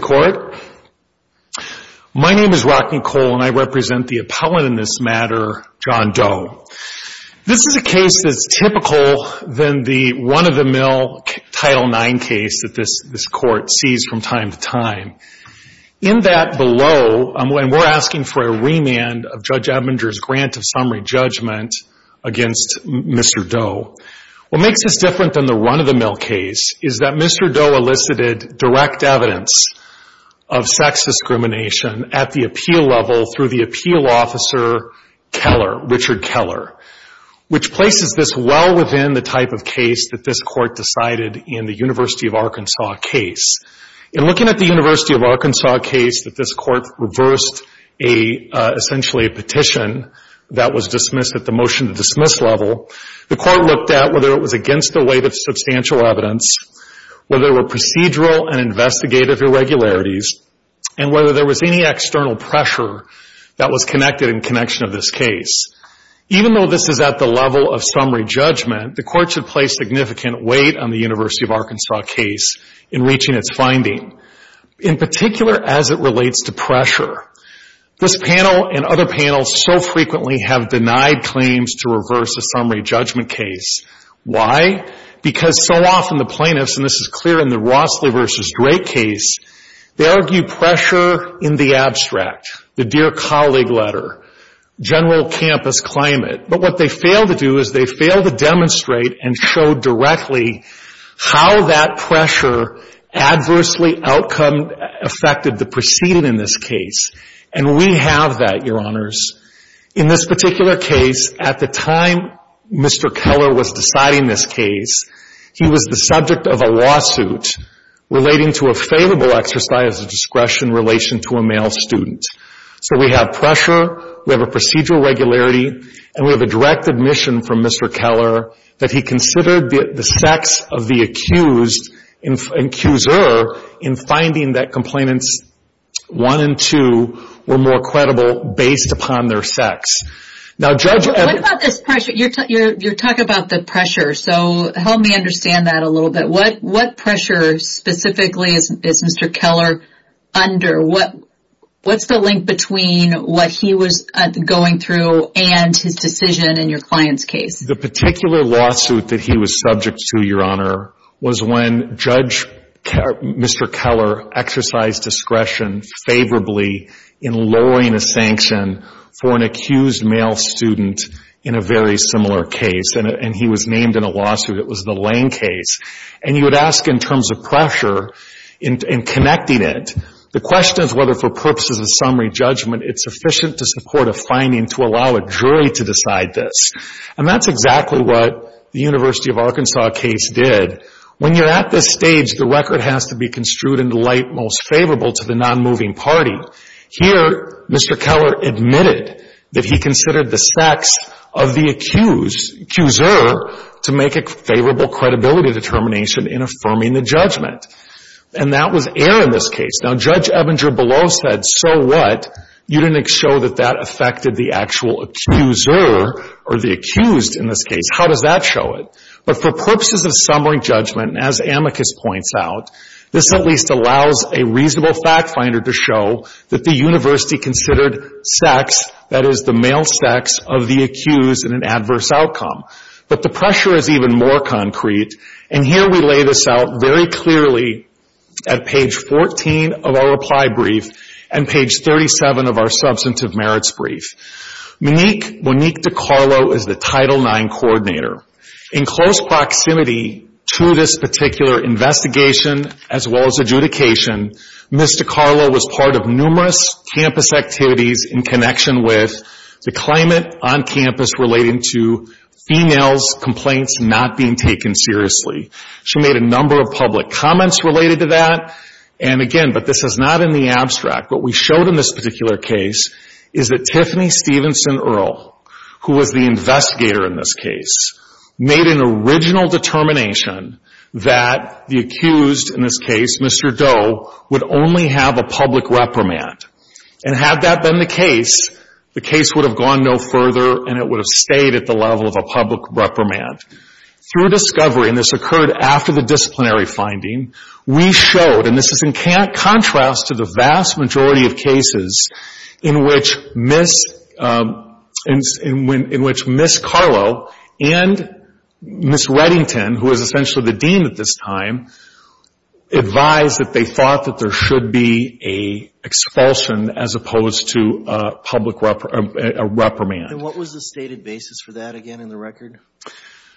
Court. My name is Rocky Cole and I represent the appellant in this matter, John Doe. This is a case that's typical than the run-of-the-mill Title IX case that this court sees from time to time. In that below, and we're asking for a remand of Judge Ebbinger's grant of summary judgment against Mr. Doe. What makes this different than the run-of-the-mill case is that Mr. Doe elicited direct evidence of sex discrimination at the appeal level through the appeal officer Keller, Richard Keller, which places this well within the type of case that this court decided in the University of Arkansas case. In looking at the University of Arkansas case that this court reversed a, essentially a petition that was dismissed at the motion to dismiss level, the court looked at whether it was against the weight of substantial evidence, whether there were procedural and investigative irregularities, and whether there was any external pressure that was connected in connection of this case. Even though this is at the level of summary judgment, the court should place significant weight on the University of Arkansas case in reaching its finding, in particular as it relates to pressure. This panel and other panels so frequently have denied claims to because so often the plaintiffs, and this is clear in the Rossley v. Drake case, they argue pressure in the abstract, the dear colleague letter, general campus climate. But what they fail to do is they fail to demonstrate and show directly how that pressure adversely outcome affected the proceeding in this case. And we have that, Your Honors. In this particular case, at the time Mr. Keller was deciding this case, he was the subject of a lawsuit relating to a failable exercise of discretion in relation to a male student. So we have pressure, we have a procedural irregularity, and we have a direct admission from Mr. Keller that he considered the sex of the accused, accuser, in finding that complainants one and two were more credible based upon their sex. What about this pressure? You're talking about the pressure, so help me understand that a little bit. What pressure specifically is Mr. Keller under? What's the link between what he was going through and his decision in your client's case? The particular lawsuit that he was subject to, Your Honor, was when Mr. Keller exercised discretion favorably in lowering a sanction for an accused male student in a very similar case. And he was named in a lawsuit, it was the Lane case. And you would ask in terms of pressure, in connecting it, the question is whether for purposes of summary judgment it's sufficient to support a finding to allow a jury to decide this. And that's exactly what the University of Arkansas case did. When you're at this stage, the record has to be construed in the light most favorable to the nonmoving party. Here, Mr. Keller admitted that he considered the sex of the accuser to make a favorable credibility determination in affirming the judgment. And that was error in this case. Now, Judge Ebinger Below said, so what? You didn't show that that affected the actual accuser, or the accused in this case. How does that show it? But for purposes of summary judgment, as Amicus points out, this at least allows a reasonable fact finder to show that the university considered sex, that is, the male sex of the accused in an adverse outcome. But the pressure is even more concrete. And here we lay this out very clearly at page 14 of our reply brief and page 37 of our substantive merits brief. Monique DiCarlo is the Title IX coordinator. In close proximity to this particular investigation, as well as adjudication, Ms. DiCarlo was part of numerous campus activities in connection with the climate on campus relating to females' complaints not being taken seriously. She made a number of public comments related to that. And again, but this is not in the abstract. What we showed in this particular case is that Tiffany Stevenson Earl, who was the investigator in this case, made an original determination that the accused in this case, Mr. Doe, would only have a public reprimand. And had that been the case, the case would have gone no further and it would have stayed at the level of a public reprimand. Through discovery, and this occurred after the disciplinary finding, we showed, and this is in contrast to the vast majority of cases in which Ms. DiCarlo and Ms. Reddington, who is essentially the dean at this time, advised that they thought that there should be an expulsion as opposed to a public reprimand. And what was the stated basis for that again in the record?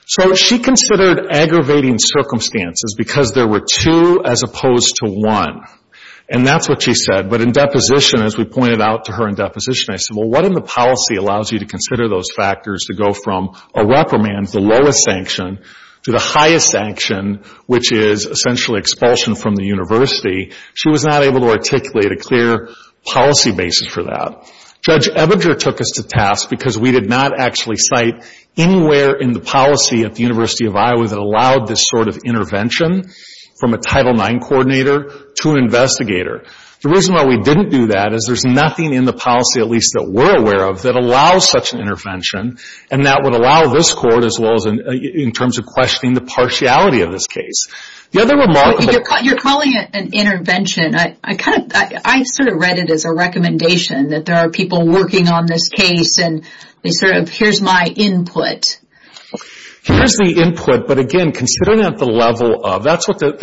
So she considered aggravating circumstances because there were two as opposed to one. And that's what she said. But in deposition, as we pointed out to her in deposition, I said, well, what in the policy allows you to consider those factors to go from a reprimand, the lowest sanction, to the highest sanction, which is essentially expulsion from the university? She was not able to articulate a clear policy basis for that. Judge Ebinger took us to task because we did not actually cite anywhere in the policy at the University of Iowa that allowed this sort of intervention from a Title IX coordinator to an investigator. The reason why we didn't do that is there's nothing in the policy, at least that we're aware of, that allows such an intervention and that would allow this court, as well as in terms of questioning the partiality of this case. You're calling it an intervention. I kind of I sort of read it as a recommendation that there are people working on this case and sort of here's my input. Here's the input, but again, considering at the level of, that's what the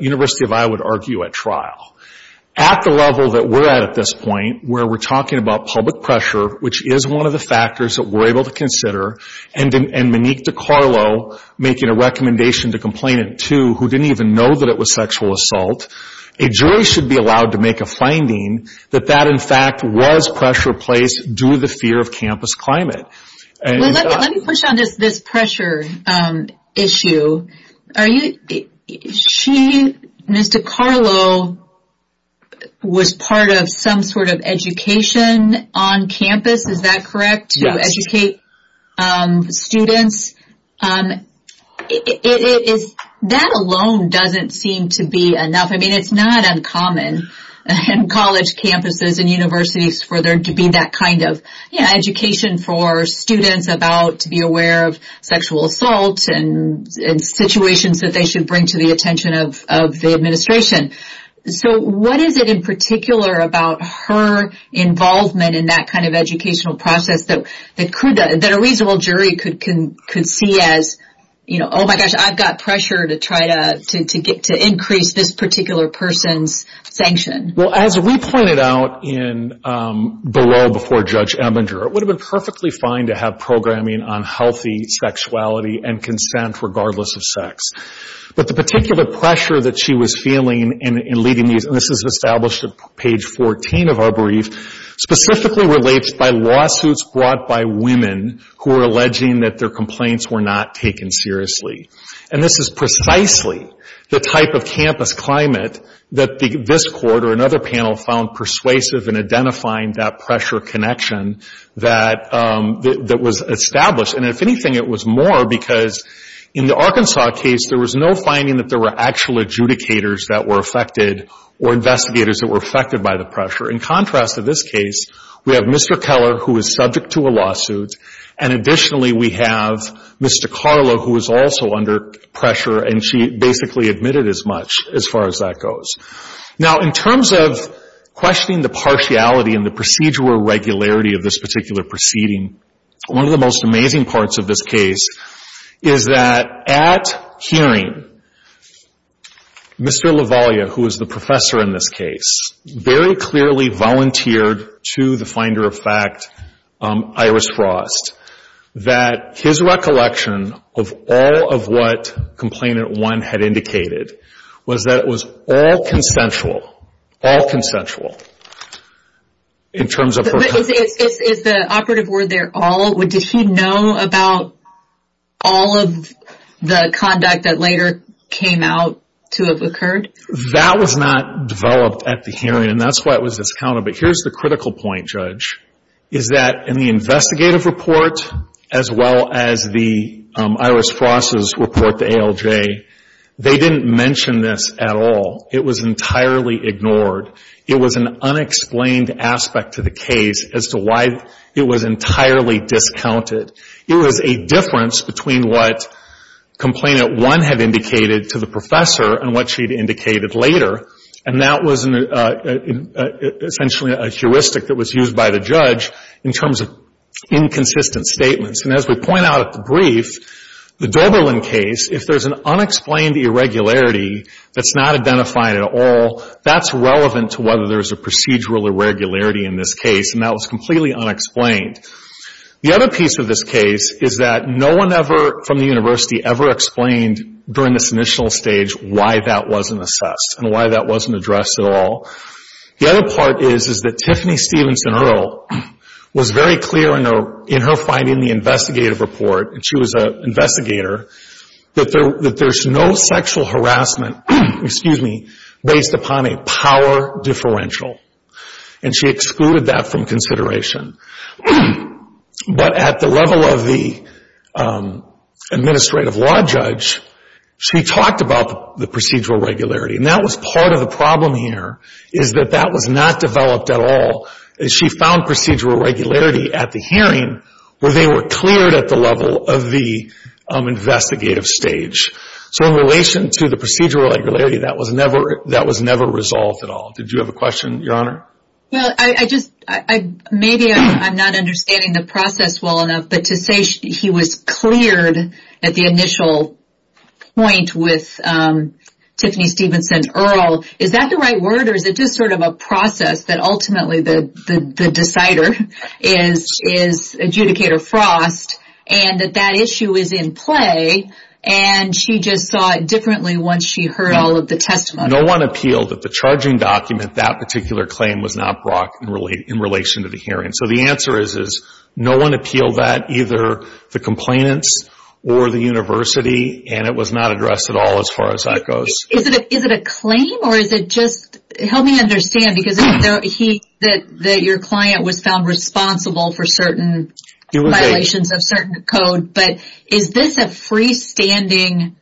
University of Iowa would argue at trial. At the level that we're at at this point, where we're talking about public pressure, which is one of the factors that we're able to consider, and Monique DiCarlo making a recommendation to complainant two, who didn't even know that it was sexual assault, a jury should be allowed to make a finding that that in fact was pressure placed due to the fear of campus climate. Let me push on this pressure issue. She, Ms. DiCarlo, was part of some sort of education on campus, is that correct, to educate students? Yes. That alone doesn't seem to be enough. I mean, it's not uncommon in college campuses and universities for there to be that kind of education for students about to be aware of sexual assault and situations that they should bring to the attention of the administration. So what is it in particular about her involvement in that kind of educational process that a reasonable jury could see as, oh my gosh, I've got pressure to try to increase this particular person's sanction? Well, as we pointed out below before Judge Ebinger, it would have been perfectly fine to have programming on healthy sexuality and consent regardless of sex. But the particular pressure that she was feeling in leading these, and this is established at page 14 of our brief, specifically relates by lawsuits brought by women who are alleging that their complaints were not taken seriously. And this is precisely the type of campus climate that this court or another panel found persuasive in identifying that pressure connection that was established. And if anything, it was more because in the Arkansas case, there was no finding that there were actual adjudicators that were affected or investigators that were affected by the pressure. In contrast to this case, we have Mr. Keller, who is subject to a lawsuit, and additionally, we have Mr. Carla, who is also under pressure, and she basically admitted as much as far as that goes. Now, in terms of questioning the partiality and the procedure or regularity of this particular proceeding, one of the most amazing parts of this case is that at hearing, Mr. LaVaglia, who is the professor in this case, very clearly volunteered to the finder of fact, Iris Frost, that his recollection of all of what Complainant 1 had indicated was that it was all consensual, all consensual in terms of her complaint. Is the operative word there, all? Did he know about all of the conduct that later came out to have occurred? That was not developed at the hearing, and that's why it was discounted, but here's the critical point, Judge, is that in the investigative report, as well as the Iris Frost's report to ALJ, they didn't mention this at all. It was entirely ignored. It was an unexplained aspect to the case as to why it was entirely discounted. It was a difference between what Complainant 1 had indicated to the professor and what she had indicated later, and that was essentially a heuristic that was used by the judge in terms of inconsistent statements. And as we point out at the brief, the Doberlin case, if there's an unexplained irregularity that's not identified at all, that's relevant to whether there's a procedural irregularity in this case, and that was completely unexplained. The other piece of this case is that no one ever from the university ever explained during this initial stage why that wasn't assessed and why that wasn't addressed at all. The other part is that Tiffany Stevenson Earle was very clear in her finding the investigative report, and she was an investigator, that there's no sexual harassment, excuse me, based upon a power differential, and she excluded that from consideration. But at the level of the administrative law judge, she talked about the procedural irregularity, and that was part of the problem here, is that that was not developed at all. She found procedural irregularity at the hearing where they were cleared at the level of the investigative stage. So in relation to the procedural irregularity, that was never resolved at all. Did you have a question, Your Honor? Well, maybe I'm not understanding the process well enough, but to say he was cleared at the initial point with Tiffany Stevenson Earle, is that the right word, or is it just sort of a process that ultimately the decider is adjudicator Frost, and that that issue is in play, and she just saw it differently once she heard all of the testimony? No one appealed that the charging document, that particular claim, was not brought in relation to the hearing. So the answer is no one appealed that, either the complainants or the university, and it was not addressed at all as far as that goes. Is it a claim, or is it just, help me understand, because your client was found responsible for certain violations of certain code, but is this a freestanding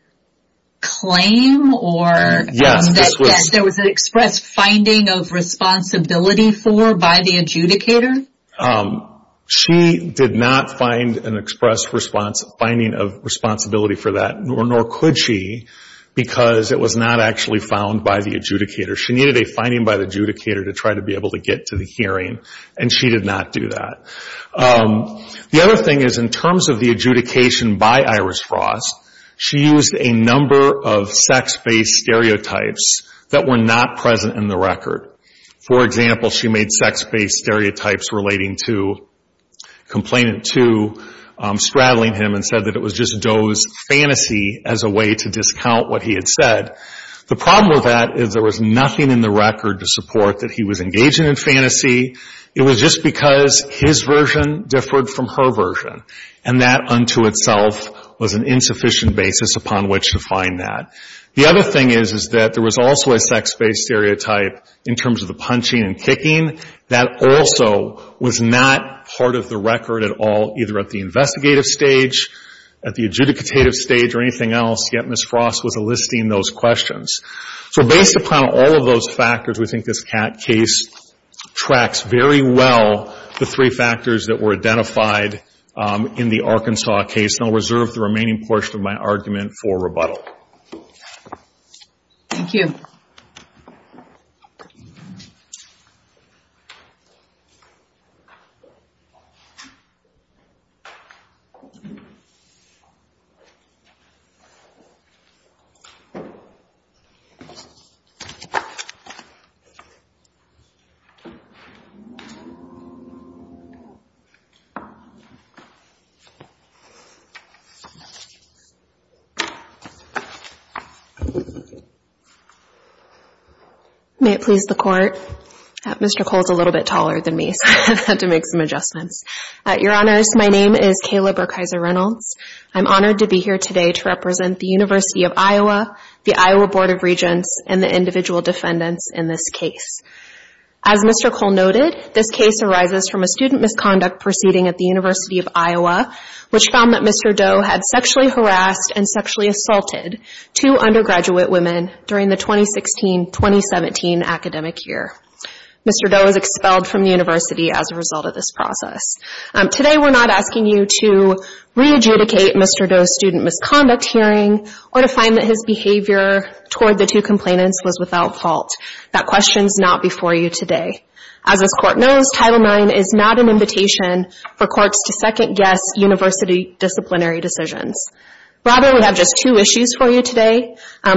claim, or that there was an expressed finding of responsibility for by the adjudicator? She did not find an expressed finding of responsibility for that, nor could she, because it was not actually found by the adjudicator. She needed a finding by the adjudicator to try to be able to get to the hearing, and she did not do that. The other thing is, in terms of the adjudication by Iris Frost, she used a number of sex-based stereotypes that were not present in the record. For example, she made sex-based stereotypes relating to Complainant 2, straddling him and said that it was just Doe's fantasy as a way to discount what he had said. The problem with that is there was nothing in the record to support that he was engaging in fantasy. It was just because his version differed from her version, and that unto itself was an insufficient basis upon which to find that. The other thing is, is that there was also a sex-based stereotype in terms of the punching and kicking. That also was not part of the record at all, either at the investigative stage, at the adjudicative stage, or anything else, yet Ms. Frost was enlisting those questions. So based upon all of those factors, we think this case tracks very well the three factors that were identified in the Arkansas case, and I'll reserve the remaining portion of my argument for rebuttal. Thank you. May it please the Court. Mr. Cole is a little bit taller than me, so I had to make some adjustments. Your Honors, my name is Kayla Burkheiser Reynolds. I'm honored to be here today to represent the University of Iowa, the Iowa Board of Regents, and the individual defendants in this case. As Mr. Cole noted, this case arises from a student misconduct proceeding at the University of Iowa, which found that Mr. Doe had sexually harassed and sexually assaulted two undergraduate women during the 2016-2017 academic year. Mr. Doe was expelled from the University as a result of this process. Today, we're not asking you to re-adjudicate Mr. Doe's student misconduct hearing, or to find that his behavior toward the two complainants was without fault. That question is not before you today. As this Court knows, Title IX is not an invitation for courts to second-guess university disciplinary decisions. Rather, we have just two issues for you today.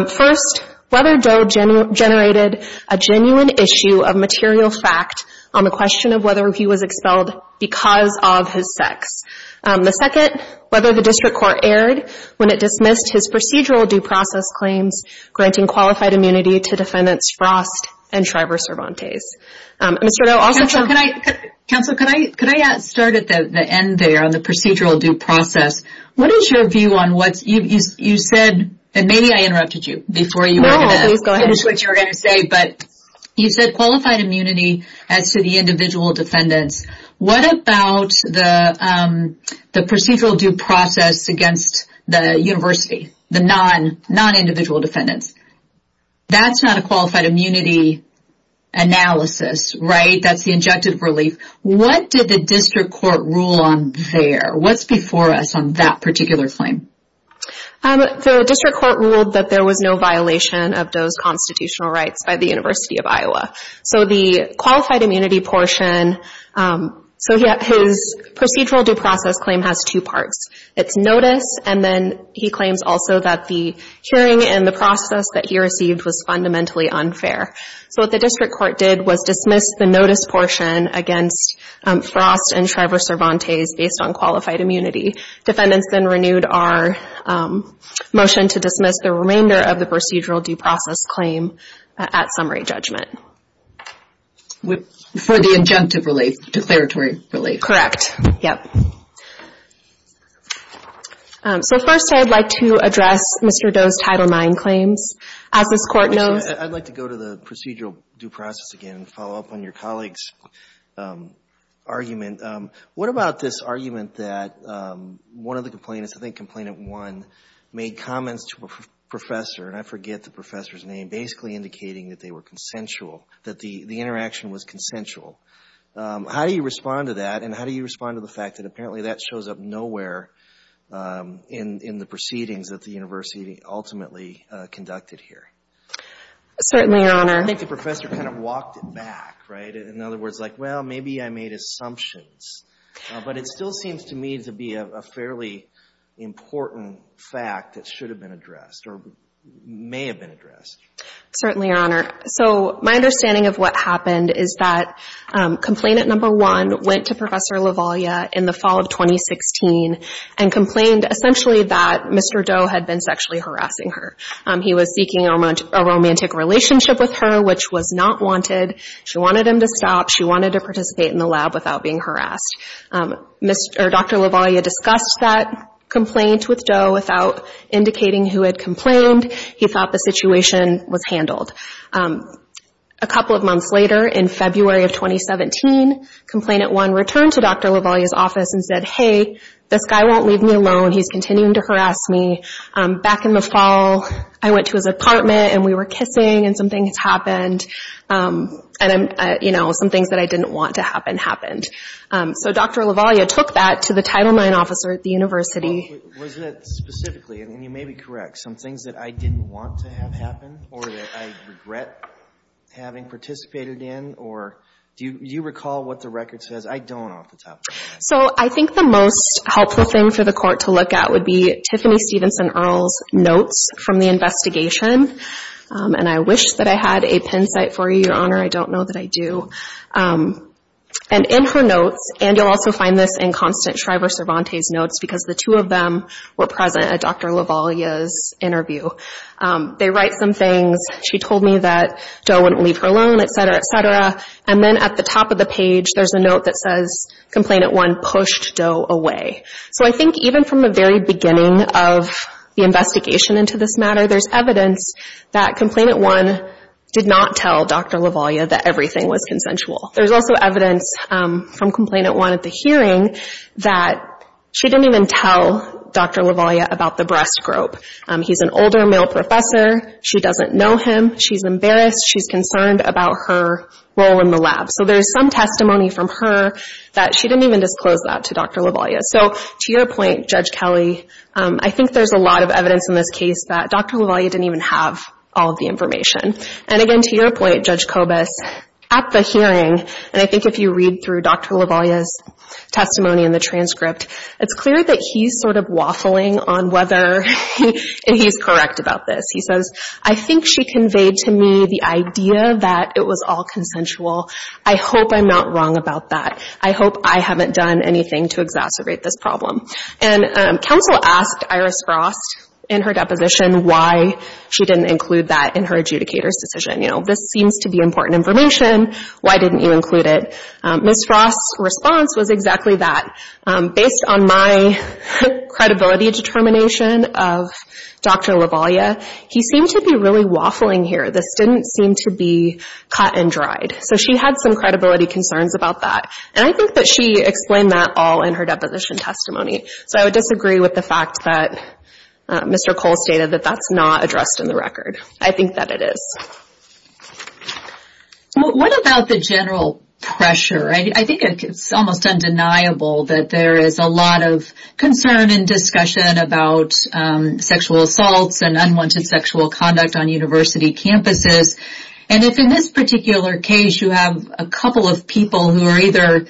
First, whether Doe generated a genuine issue of material fact on the question of whether he was expelled because of his sex. The second, whether the District Court erred when it dismissed his procedural due process claims granting qualified immunity to defendants Frost and Shriver-Cervantes. Mr. Doe also... Counselor, could I start at the end there on the procedural due process? What is your view on what you said? And maybe I interrupted you before you were going to finish what you were going to say, but you said qualified immunity as to the individual defendants. What about the procedural due process against the university, the non-individual defendants? That's not a qualified immunity analysis, right? That's the injective relief. What did the District Court rule on there? What's before us on that particular claim? The District Court ruled that there was no violation of Doe's constitutional rights by the University of Iowa. So the qualified immunity portion... So his procedural due process claim has two parts. It's notice, and then he claims also that the hearing and the process that he received was fundamentally unfair. So what the District Court did was dismiss the notice portion against Frost and Shriver-Cervantes based on qualified immunity. Defendants then renewed our motion to dismiss the remainder of the procedural due process claim at summary judgment. For the injunctive relief, declaratory relief. Correct, yep. So first, I'd like to address Mr. Doe's Title IX claims. As this Court knows... I'd like to go to the procedural due process again and follow up on your colleague's argument. What about this argument that one of the complainants, I think Complainant 1, made comments to a professor, and I forget the professor's name, basically indicating that they were consensual, that the interaction was consensual. How do you respond to that, and how do you respond to the fact that apparently that shows up nowhere in the proceedings that the university ultimately conducted here? Certainly, Your Honor. I think the professor kind of walked it back, right? In other words, like, well, maybe I made assumptions. But it still seems to me to be a fairly important fact that should have been addressed, or may have been addressed. Certainly, Your Honor. So my understanding of what happened is that Complainant 1 went to Professor Lavaglia in the fall of 2016 and complained essentially that Mr. Doe had been sexually harassing her. He was seeking a romantic relationship with her, which was not wanted. She wanted him to stop. She wanted to participate in the lab without being harassed. Dr. Lavaglia discussed that complaint with Doe without indicating who had complained. He thought the situation was handled. A couple of months later, in February of 2017, Complainant 1 returned to Dr. Lavaglia's office and said, hey, this guy won't leave me alone. He's continuing to harass me. Back in the fall, I went to his apartment, and we were kissing, and some things happened. And, you know, some things that I didn't want to happen happened. So Dr. Lavaglia took that to the Title IX officer at the university. Was it specifically, and you may be correct, some things that I didn't want to have happen, or that I regret having participated in? Or do you recall what the record says? I don't off the top of my head. So I think the most helpful thing for the court to look at would be Tiffany Stevenson Earle's notes from the investigation. And I wish that I had a pin site for you, Your Honor. I don't know that I do. And in her notes, and you'll also find this in Constant Shriver-Cervantes' notes, because the two of them were present at Dr. Lavaglia's interview. They write some things. She told me that Doe wouldn't leave her alone, et cetera, et cetera. Then at the top of the page, there's a note that says Complainant 1 pushed Doe away. So I think even from the very beginning of the investigation into this matter, there's evidence that Complainant 1 did not tell Dr. Lavaglia that everything was consensual. There's also evidence from Complainant 1 at the hearing that she didn't even tell Dr. Lavaglia about the breast grope. He's an older male professor. She doesn't know him. She's embarrassed. She's concerned about her role in the lab. So there's some testimony from her that she didn't even disclose that to Dr. Lavaglia. So to your point, Judge Kelly, I think there's a lot of evidence in this case that Dr. Lavaglia didn't even have all of the information. And again, to your point, Judge Kobus, at the hearing, and I think if you read through Dr. Lavaglia's testimony in the transcript, it's clear that he's sort of waffling on whether, and he's correct about this. I think she conveyed to me the idea that it was all consensual. I hope I'm not wrong about that. I hope I haven't done anything to exacerbate this problem. And counsel asked Iris Frost in her deposition why she didn't include that in her adjudicator's decision. You know, this seems to be important information. Why didn't you include it? Ms. Frost's response was exactly that. Based on my credibility determination of Dr. Lavaglia, he seemed to be really waffling here. This didn't seem to be cut and dried. So she had some credibility concerns about that. And I think that she explained that all in her deposition testimony. So I would disagree with the fact that Mr. Cole stated that that's not addressed in the record. I think that it is. What about the general pressure? I think it's almost undeniable that there is a lot of concern and discussion about sexual assaults and unwanted sexual conduct on university campuses. And if in this particular case you have a couple of people who are either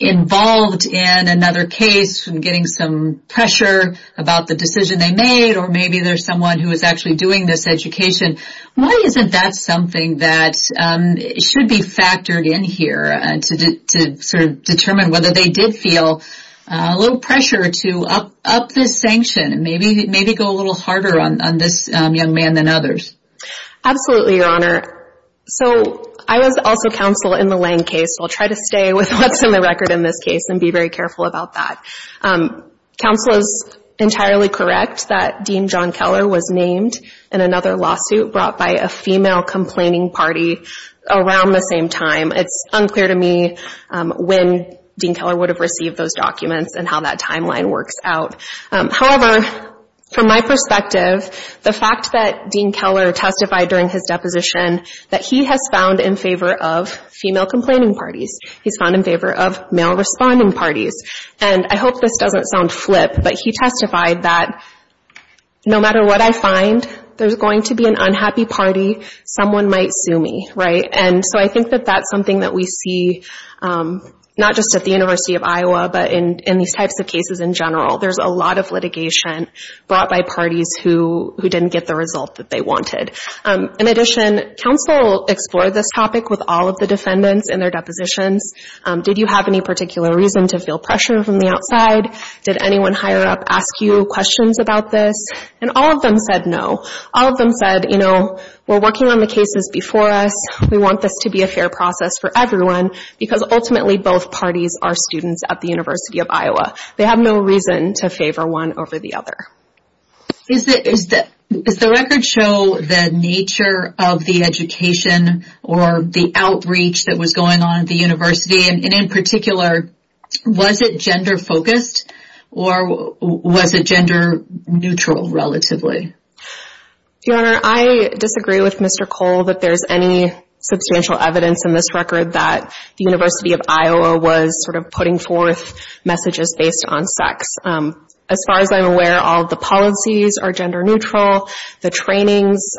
involved in another case and getting some pressure about the decision they made, or maybe there's someone who is actually doing this education, why isn't that something that should be factored in here to determine whether they did feel a little pressure to up this sanction and maybe go a little harder on this young man than others? Absolutely, Your Honor. So I was also counsel in the Lange case. So I'll try to stay with what's in the record in this case and be very careful about that. Counsel is entirely correct that Dean John Keller was named in another lawsuit brought by a female complaining party around the same time. It's unclear to me when Dean Keller would have received those documents and how that timeline works out. However, from my perspective, the fact that Dean Keller testified during his deposition that he has found in favor of female complaining parties, he's found in favor of male responding parties. And I hope this doesn't sound flip, but he testified that no matter what I find, there's going to be an unhappy party. Someone might sue me, right? And so I think that that's something that we see not just at the University of Iowa, but in these types of cases in general. There's a lot of litigation brought by parties who didn't get the result that they wanted. In addition, counsel explored this topic with all of the defendants in their depositions. Did you have any particular reason to feel pressure from the outside? Did anyone higher up ask you questions about this? And all of them said no. All of them said, you know, we're working on the cases before us. We want this to be a fair process for everyone because ultimately both parties are students at the University of Iowa. They have no reason to favor one over the other. Is the record show the nature of the education or the outreach that was going on at the university? And in particular, was it gender-focused or was it gender-neutral relatively? Your Honor, I disagree with Mr. Cole that there's any substantial evidence in this record that the University of Iowa was sort of putting forth messages based on sex. As far as I'm aware, all the policies are gender-neutral. The trainings,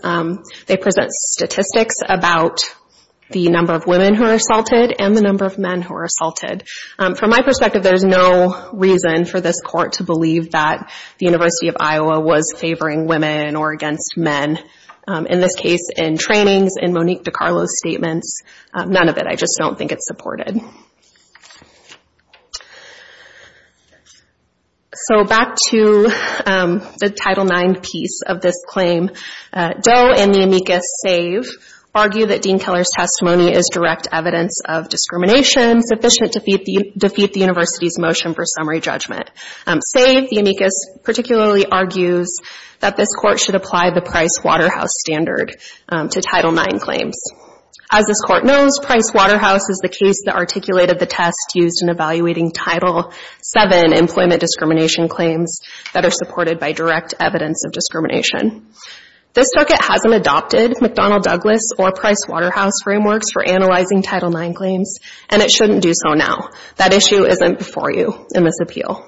they present statistics about the number of women who are assaulted and the number of men who are assaulted. From my perspective, there's no reason for this court to believe that the University of Iowa was favoring women or against men. In this case, in trainings, in Monique DiCarlo's statements, none of it. I just don't think it's supported. So back to the Title IX piece of this claim. Doe and the amicus save argue that Dean Keller's testimony is direct evidence of discrimination sufficient to defeat the university's motion for summary judgment? Save, the amicus particularly argues that this court should apply the Price-Waterhouse standard to Title IX claims. As this court knows, Price-Waterhouse is the case that articulated the test used in evaluating Title VII employment discrimination claims that are supported by direct evidence of discrimination. This circuit hasn't adopted McDonnell-Douglas or Price-Waterhouse frameworks for analyzing Title IX claims, and it shouldn't do so now. That issue isn't before you in this appeal.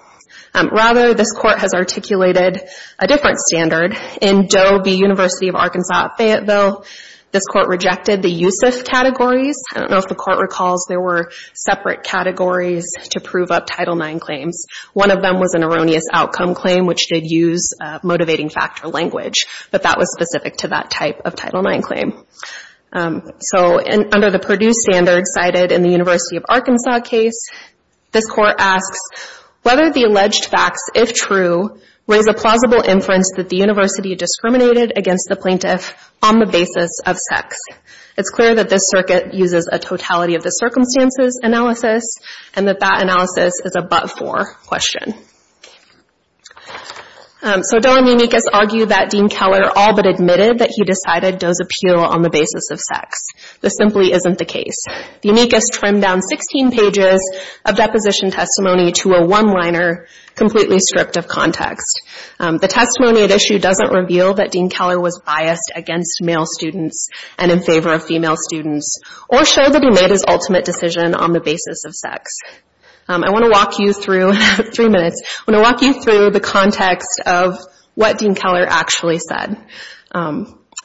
Rather, this court has articulated a different standard. In Doe v. University of Arkansas at Fayetteville, this court rejected the USIF categories. I don't know if the court recalls there were separate categories to prove up Title IX claims. One of them was an erroneous outcome claim, which did use motivating factor language, but that was specific to that type of Title IX claim. So under the Purdue standard cited in the University of Arkansas case, this court asks whether the alleged facts, if true, raise a plausible inference that the university discriminated against the plaintiff on the basis of sex. It's clear that this circuit uses a totality of the circumstances analysis and that that analysis is a but-for question. So Doe and Unicus argue that Dean Keller all but admitted that he decided Doe's appeal on the basis of sex. This simply isn't the case. Unicus trimmed down 16 pages of deposition testimony to a one-liner, completely stripped of context. The testimony at issue doesn't reveal that Dean Keller was biased against male students and in favor of female students, or show that he made his ultimate decision on the basis of sex. I want to walk you through, in three minutes, I want to walk you through the context of what Dean Keller actually said.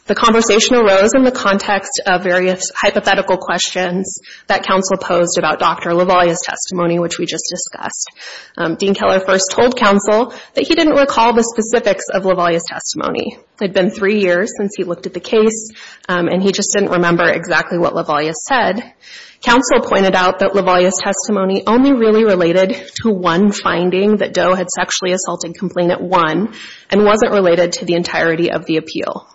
The conversation arose in the context of various hypothetical questions that counsel posed about Dr. LaValia's testimony, which we just discussed. Dean Keller first told counsel that he didn't recall the specifics of LaValia's testimony. It had been three years since he looked at the case and he just didn't remember exactly what LaValia said. Counsel pointed out that LaValia's testimony only really related to one finding, that Doe had sexually assaulted Complainant 1 and wasn't related to the entirety of the appeal.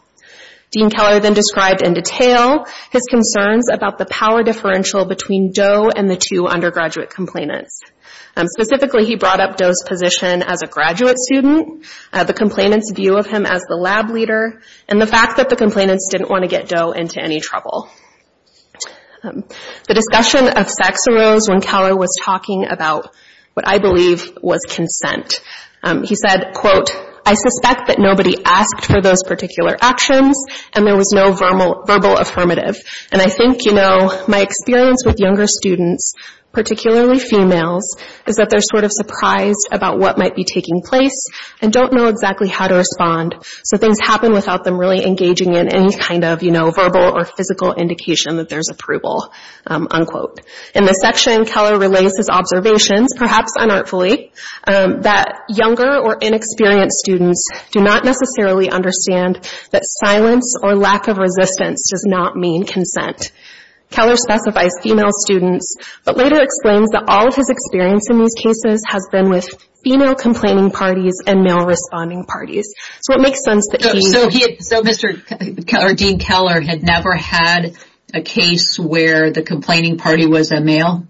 Dean Keller then described in detail his concerns about the power differential between Doe and the two undergraduate complainants. Specifically, he brought up Doe's position as a graduate student, the complainant's view of him as the lab leader, and the fact that the complainants didn't want to get Doe into any trouble. The discussion of sex arose when Keller was talking about what I believe was consent. He said, quote, I suspect that nobody asked for those particular actions and there was no verbal affirmative. And I think, you know, my experience with younger students, particularly females, is that they're sort of surprised about what might be taking place and don't know exactly how to respond. So things happen without them really engaging in any kind of, you know, verbal or physical indication that there's approval, unquote. In this section, Keller relays his observations, perhaps unartfully, that younger or inexperienced students do not necessarily understand that silence or lack of resistance does not mean consent. Keller specifies female students, but later explains that all of his experience in these cases has been with female complaining parties and male responding parties. So it makes sense that he... So he, so Mr. or Dean Keller had never had a case where the complaining party was a male?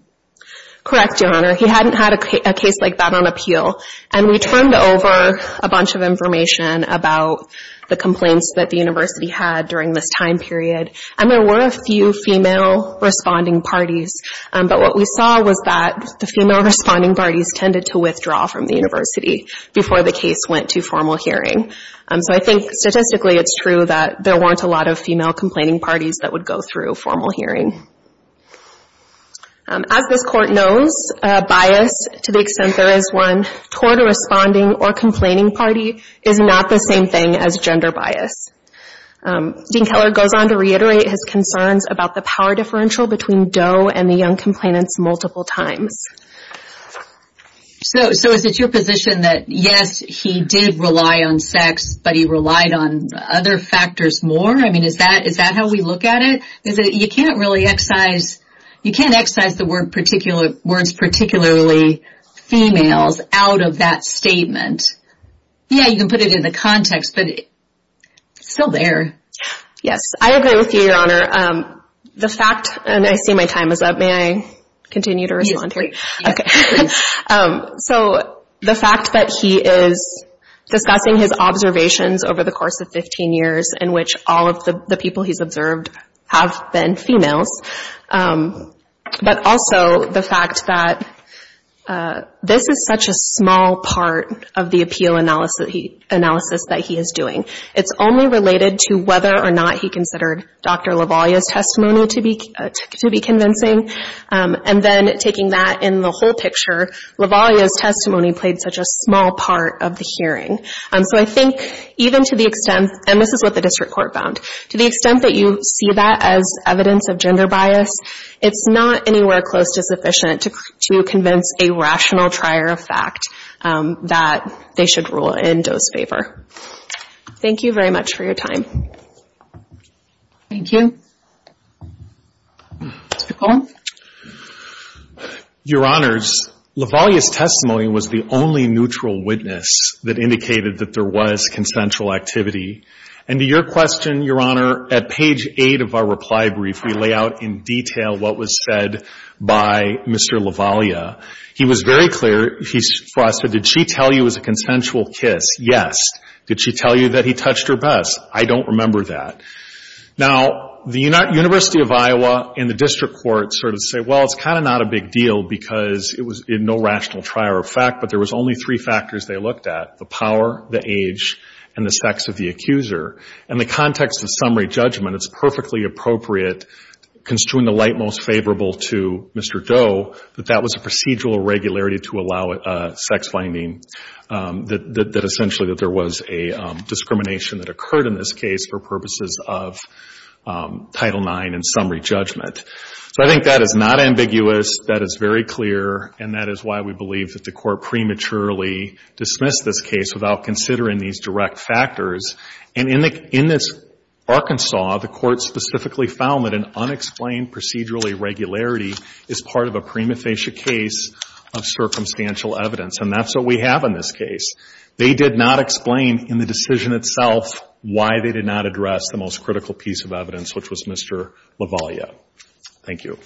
Correct, Your Honor. He hadn't had a case like that on appeal. And we turned over a bunch of information about the complaints that the university had during this time period. And there were a few female responding parties. But what we saw was that the female responding parties tended to withdraw from the university before the case went to formal hearing. So I think statistically it's true that there weren't a lot of female complaining parties that would go through formal hearing. As this Court knows, bias to the extent there is one toward a responding or complaining party is not the same thing as gender bias. Dean Keller goes on to reiterate his concerns about the power differential between Doe and the young complainants multiple times. So is it your position that yes, he did rely on sex, but he relied on other factors more? I mean, is that how we look at it? Is it, you can't really excise, you can't excise the word particular, words particularly females out of that statement. Yeah, you can put it in the context, but it's still there. Yes, I agree with you, Your Honor. The fact, and I see my time is up. May I continue to respond? Yes, please. Okay, so the fact that he is discussing his observations over the course of 15 years in which all of the people he's observed have been females, but also the fact that this is such a small part of the appeal analysis that he is doing. It's only related to whether or not he considered Dr. LaVaglia's testimony to be convincing, and then taking that in the whole picture, LaVaglia's testimony played such a small part of the hearing. So I think even to the extent, and this is what the district court found, to the extent that you see that as evidence of gender bias, it's not anywhere close to sufficient to convince a rational trier of fact that they should rule in Doe's favor. Thank you very much for your time. Thank you. Mr. Cohn? Your Honors, LaVaglia's testimony was the only neutral witness that indicated that there was consensual activity. And to your question, Your Honor, at page 8 of our reply brief, we lay out in detail what was said by Mr. LaVaglia. He was very clear, he said, did she tell you it was a consensual kiss? Yes. Did she tell you that he touched her bust? I don't remember that. Now, the University of Iowa and the district court sort of say, well, it's kind of not a big deal because it was in no rational trier of fact, but there was only three factors they looked at, the power, the age, and the sex of the accuser. In the context of summary judgment, it's perfectly appropriate, construing the light most favorable to Mr. Doe, that that was a procedural irregularity to allow sex finding, that essentially that there was a discrimination that occurred in this case for purposes of Title IX and summary judgment. So I think that is not ambiguous. That is very clear. And that is why we believe that the court prematurely dismissed this case without considering these direct factors. And in this Arkansas, the court specifically found that an unexplained procedural irregularity is part of a prima facie case of circumstantial evidence. And that's what we have in this case. They did not explain in the decision itself why they did not address the most critical piece of evidence, which was Mr. Lavaglia. Thank you.